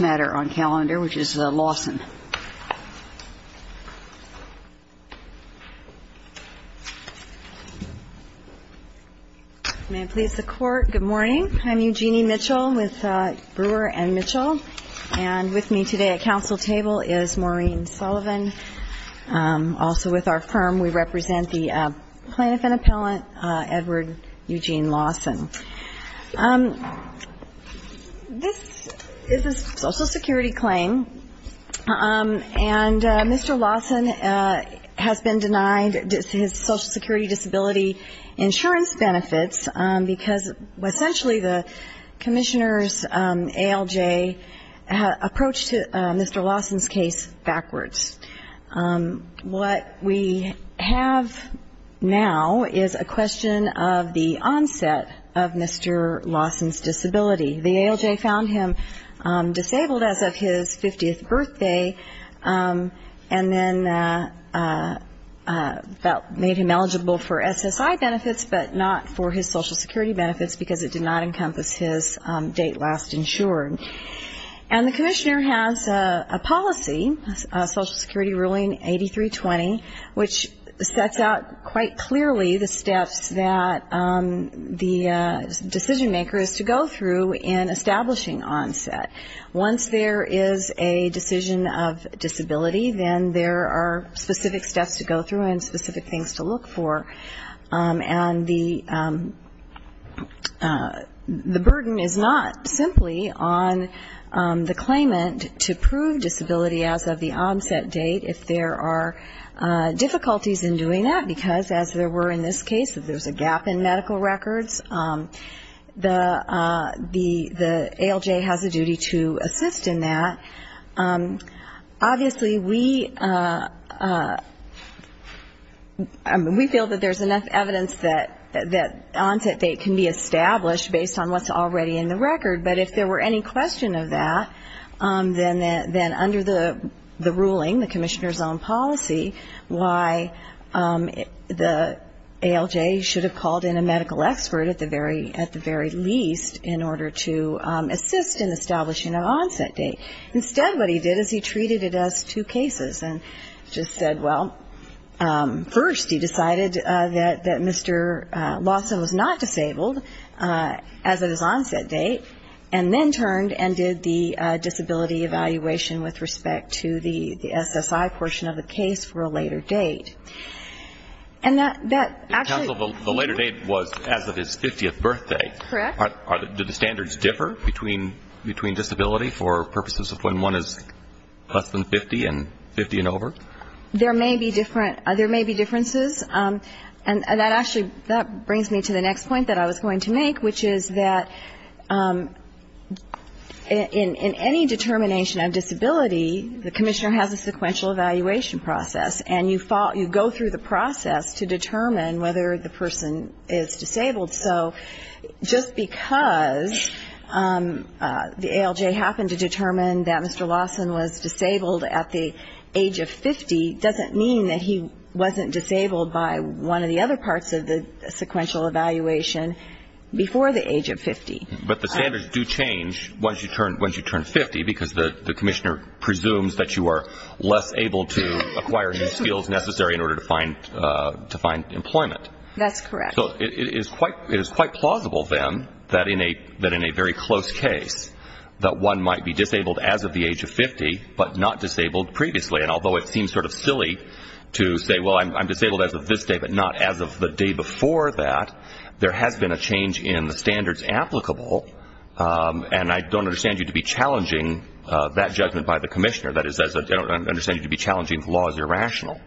matter on calendar, which is Lawson. May it please the Court, good morning. I'm Eugenie Mitchell with Brewer & Mitchell, and with me today at council table is Maureen Sullivan. Also with our firm, we represent the plaintiff and appellant, Edward Eugene Lawson. This is a very Social Security claim, and Mr. Lawson has been denied his Social Security disability insurance benefits, because essentially the commissioners ALJ approached Mr. Lawson's case backwards. What we have now is a question of the onset of Mr. Lawson's disability. The ALJ found him on the 50th birthday, and then that made him eligible for SSI benefits, but not for his Social Security benefits, because it did not encompass his date last insured. And the commissioner has a policy, Social Security ruling 8320, which sets out quite clearly the steps that the decision maker is to go through in establishing onset. Once there is a decision of disability, then there are specific steps to go through and specific things to look for. And the burden is not simply on the claimant to prove disability as of the onset date, if there are difficulties in doing that, because as there were in this case, if there's a gap in medical records, the ALJ has a duty to assist in that. Obviously, we feel that there's enough evidence that onset date can be established based on what's already in the record, but if there were any question of that, then under the rule, the ALJ should have called in a medical expert at the very least in order to assist in establishing an onset date. Instead, what he did is he treated it as two cases and just said, well, first he decided that Mr. Lawson was not disabled as of his onset date, and then turned and did the disability evaluation with respect to the SSI portion of the case for a later date. And that actually was as of his 50th birthday. Did the standards differ between disability for purposes of when one is less than 50 and 50 and over? There may be differences. And that actually brings me to the next point that I was going to make, which is that in any determination of disability, the commissioner has a sequential evaluation process, and you go through the process of determining whether or not the person is disabled. So just because the ALJ happened to determine that Mr. Lawson was disabled at the age of 50, doesn't mean that he wasn't disabled by one of the other parts of the sequential evaluation before the age of 50. But the standards do change once you turn 50, because the commissioner presumes that you are less able to acquire the skills necessary in order to find employment. So it is quite plausible, then, that in a very close case, that one might be disabled as of the age of 50, but not disabled previously. And although it seems sort of silly to say, well, I'm disabled as of this date, but not as of the day before that, there has been a change in the standards applicable, and I don't understand you to be challenging that judgment by the commissioner. That is, I don't understand you to be challenging the law as irrational.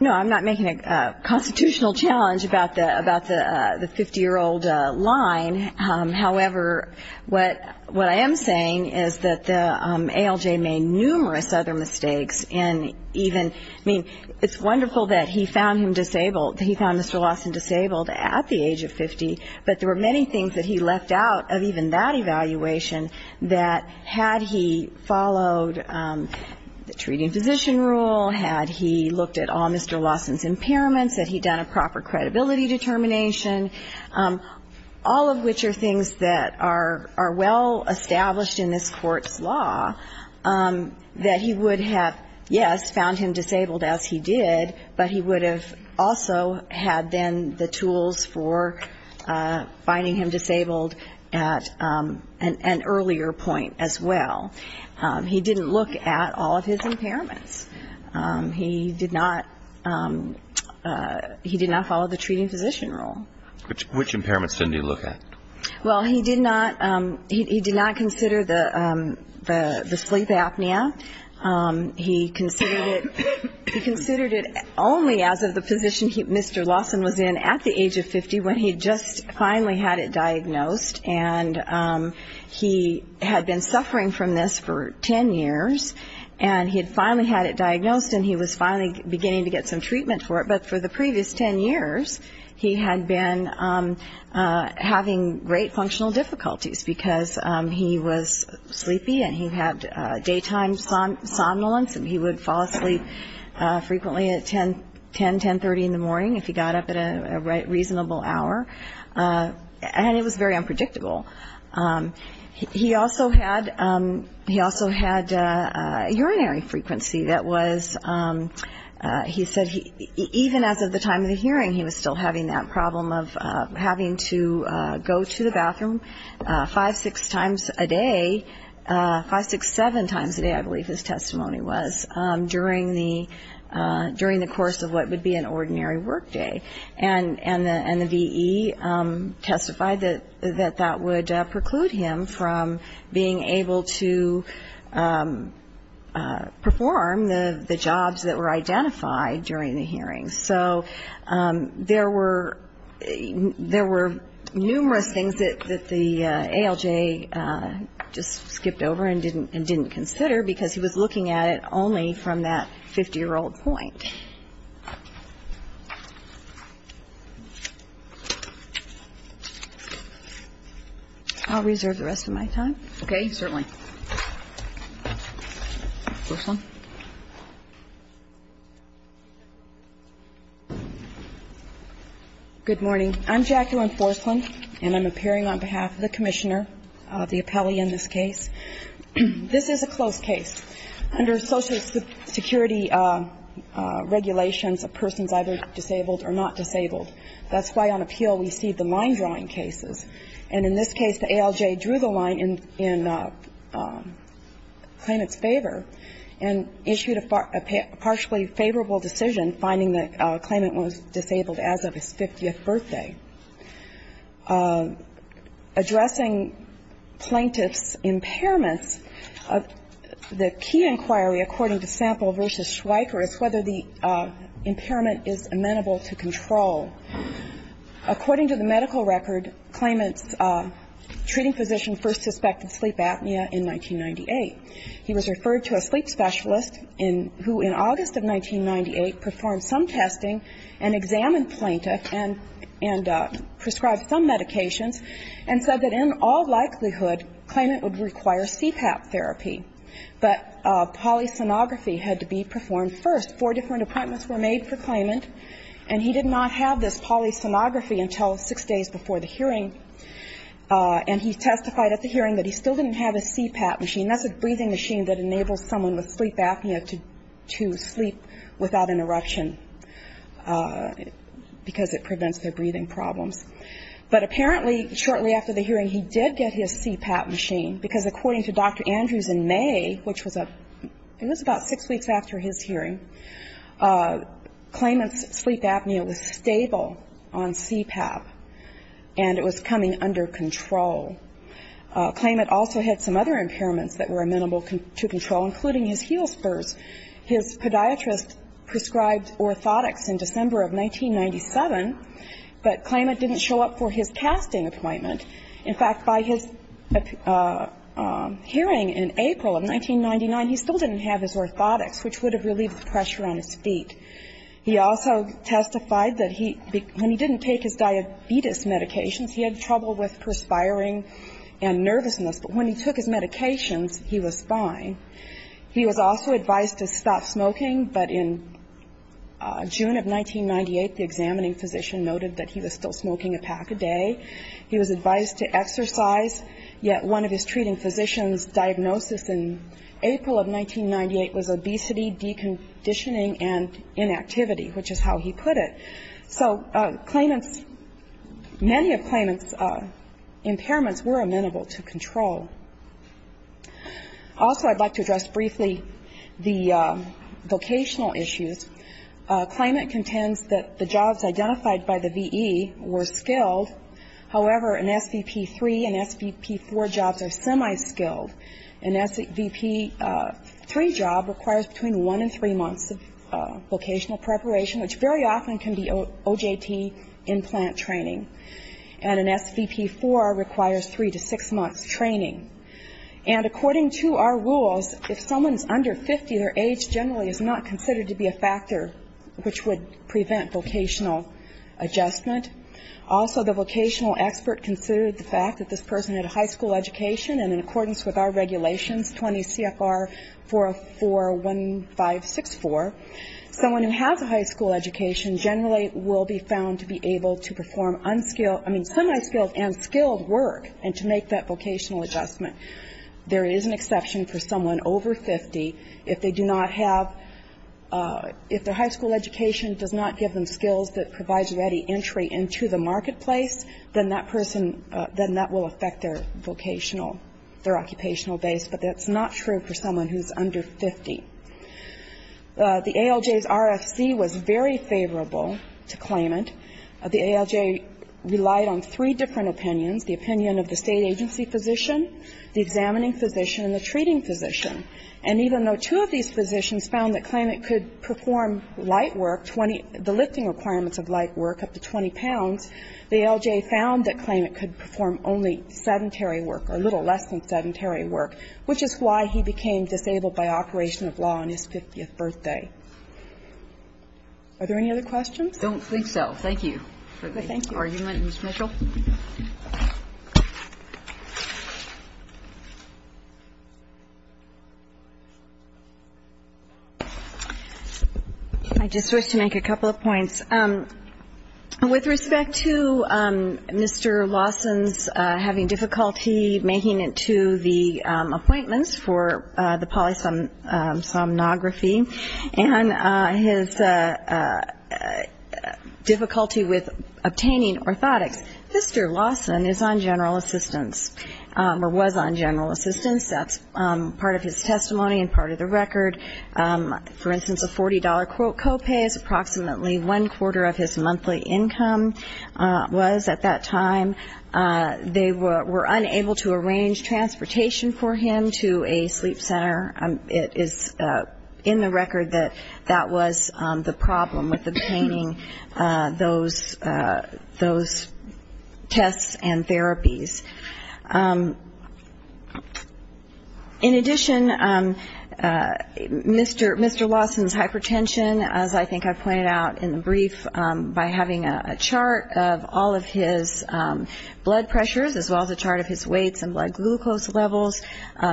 No, I'm not making a constitutional challenge about the 50-year-old line. However, what I am saying is that the ALJ made numerous other mistakes, and even, I mean, it's wonderful that he found Mr. Lawson disabled at the age of 50, but there were many things that he left out of even that evaluation, that had he followed the treating physician rule, had he looked at all Mr. Lawson's impairments, had he done a proper credibility determination, all of which are things that are well established in this Court's law, that he would have, yes, found him disabled as he did, but he would have also had, then, the tools for finding him disabled at the age of 50. At an earlier point, as well. He didn't look at all of his impairments. He did not follow the treating physician rule. Which impairments didn't he look at? Well, he did not consider the sleep apnea. He considered it only as of the position Mr. Lawson was in at the age of 50, when he just finally had it diagnosed, and he had been suffering from this for 10 years, and he had finally had it diagnosed, and he was finally beginning to get some treatment for it, but for the previous 10 years, he had been having great functional difficulties, because he was sleepy, and he had daytime somnolence, and he would fall asleep frequently at 10, 10.30 in the morning, if he got up at a reasonable hour. And it was very unpredictable. He also had urinary frequency that was, he said, even as of the time of the hearing, he was still having that problem of having to go to the bathroom five, six times a day, five, six, seven times a day, I believe his testimony was, during the course of what would be an ordinary workday, and the V.E. testified that that would preclude him from being able to perform the jobs that were identified during the hearing. So there were numerous things that the ALJ just skipped over and didn't consider, because he was looking at it only from that 50-year-old point. I'll reserve the rest of my time. Okay. Certainly. Good morning. I'm Jacqueline Forslund, and I'm appearing on behalf of the commissioner of the appellee in this case. This is a close case. Under Social Security regulations, a person's either disabled or not disabled. That's why on appeal we see the line-drawing cases. And in this case, the ALJ drew the line in claimant's favor and issued a partially favorable decision, finding the claimant was disabled as of his 50th birthday. Addressing plaintiff's impairments, the key inquiry, according to Sample v. Schweiker, is whether the impairment is amenable to control. According to the medical record, claimant's treating physician first suspected sleep apnea in 1998. He was referred to a sleep specialist who, in August of 1998, performed some testing and examined plaintiff and prescribed some medications, and said that in all likelihood, claimant would require CPAP therapy. But polysonography had to be performed first. Four different appointments were made for claimant, and he did not have this polysonography until six days before the hearing. And he testified at the hearing that he still didn't have a CPAP machine. That's a breathing machine that enables someone with sleep apnea to sleep without an eruption, because it was not possible to prevent their breathing problems. But apparently, shortly after the hearing, he did get his CPAP machine, because according to Dr. Andrews in May, which was about six weeks after his hearing, claimant's sleep apnea was stable on CPAP, and it was coming under control. Claimant also had some other impairments that were amenable to control, including his heel spurs. His podiatrist prescribed orthotics in December of 1997, but claimant didn't show up for his casting appointment. In fact, by his hearing in April of 1999, he still didn't have his orthotics, which would have relieved the pressure on his feet. He also testified that when he didn't take his diabetes medications, he had trouble with perspiring and nervousness. But when he took his medications, he was fine. He was also advised to stop smoking, but in June of 1998, the examining physician noted that he was still smoking a pack a day. He was advised to exercise, yet one of his treating physician's diagnosis in April of 1998 was obesity, deconditioning, and inactivity, which is how he put it. So claimant's, many of claimant's impairments were amenable to control. Also, I'd like to address briefly the vocational issues. Claimant contends that the jobs identified by the V.E. were skilled. However, an SVP-3 and SVP-4 jobs are semi-skilled. An SVP-3 job requires between one and three months of vocational preparation, which very often can be OJT implant training, and an SVP-4 requires three to six months training. And according to our rules, if someone's under 50, their age generally is not considered to be a factor, which would prevent vocational adjustment. Also, the vocational expert considered the fact that this person had a high school education, and in accordance with our regulations, 20 CFR 4041564, someone who has a high school education generally will be found to be able to perform unskilled, I mean, semi-skilled and skilled work, and to make that vocational adjustment. There is an exception for someone over 50. If they do not have, if their high school education does not give them skills that provides ready entry into the marketplace, then that person, then that will affect their vocational, their occupational base, which is not true for someone who's under 50. The ALJ's RFC was very favorable to claimant. The ALJ relied on three different opinions, the opinion of the State agency physician, the examining physician, and the treating physician. And even though two of these physicians found that claimant could perform light work, the lifting requirements of light work up to 20 pounds, the ALJ found that claimant could perform only sedentary work or a little less than sedentary work, which is why he became disabled by operation of law on his 50th birthday. Are there any other questions? I just wish to make a couple of points. With respect to Mr. Lawson's having difficulty making it to the appointments for the polysomnography and his difficulty with obtaining orthotics, Mr. Lawson is on general assistance or was on general assistance. That's part of his testimony and part of the record. For instance, a $40 copay is approximately one quarter of his monthly income was at that time. They were unable to arrange transportation for him to a sleep center. It is in the record that that was the problem with obtaining those tests and therapies. In addition, Mr. Lawson's hypertension, as I think I pointed out in the brief, by having a chart of all of his symptoms, blood pressures, as well as a chart of his weights and blood glucose levels,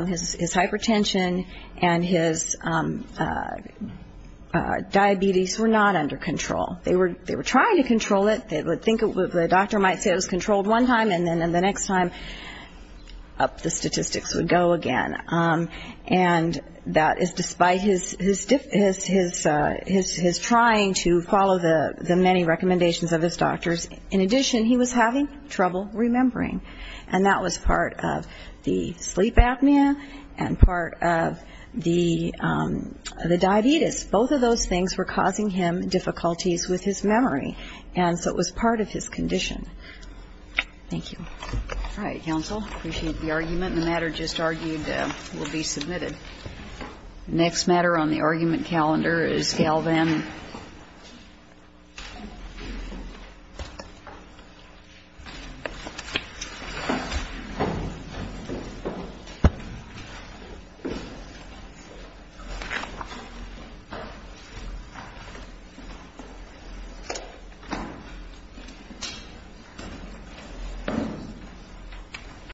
his hypertension and his diabetes were not under control. They were trying to control it. The doctor might say it was controlled one time, and then the next time, up the statistics would go again. And that is despite his trying to follow the many recommendations of his doctors. In addition, he was having trouble remembering, and that was part of the sleep apnea and part of the diabetes. Both of those things were causing him difficulties with his memory, and so it was part of his condition. Thank you. All right, counsel. Appreciate the argument, and the matter just argued will be submitted. The next matter on the argument calendar is Galvan.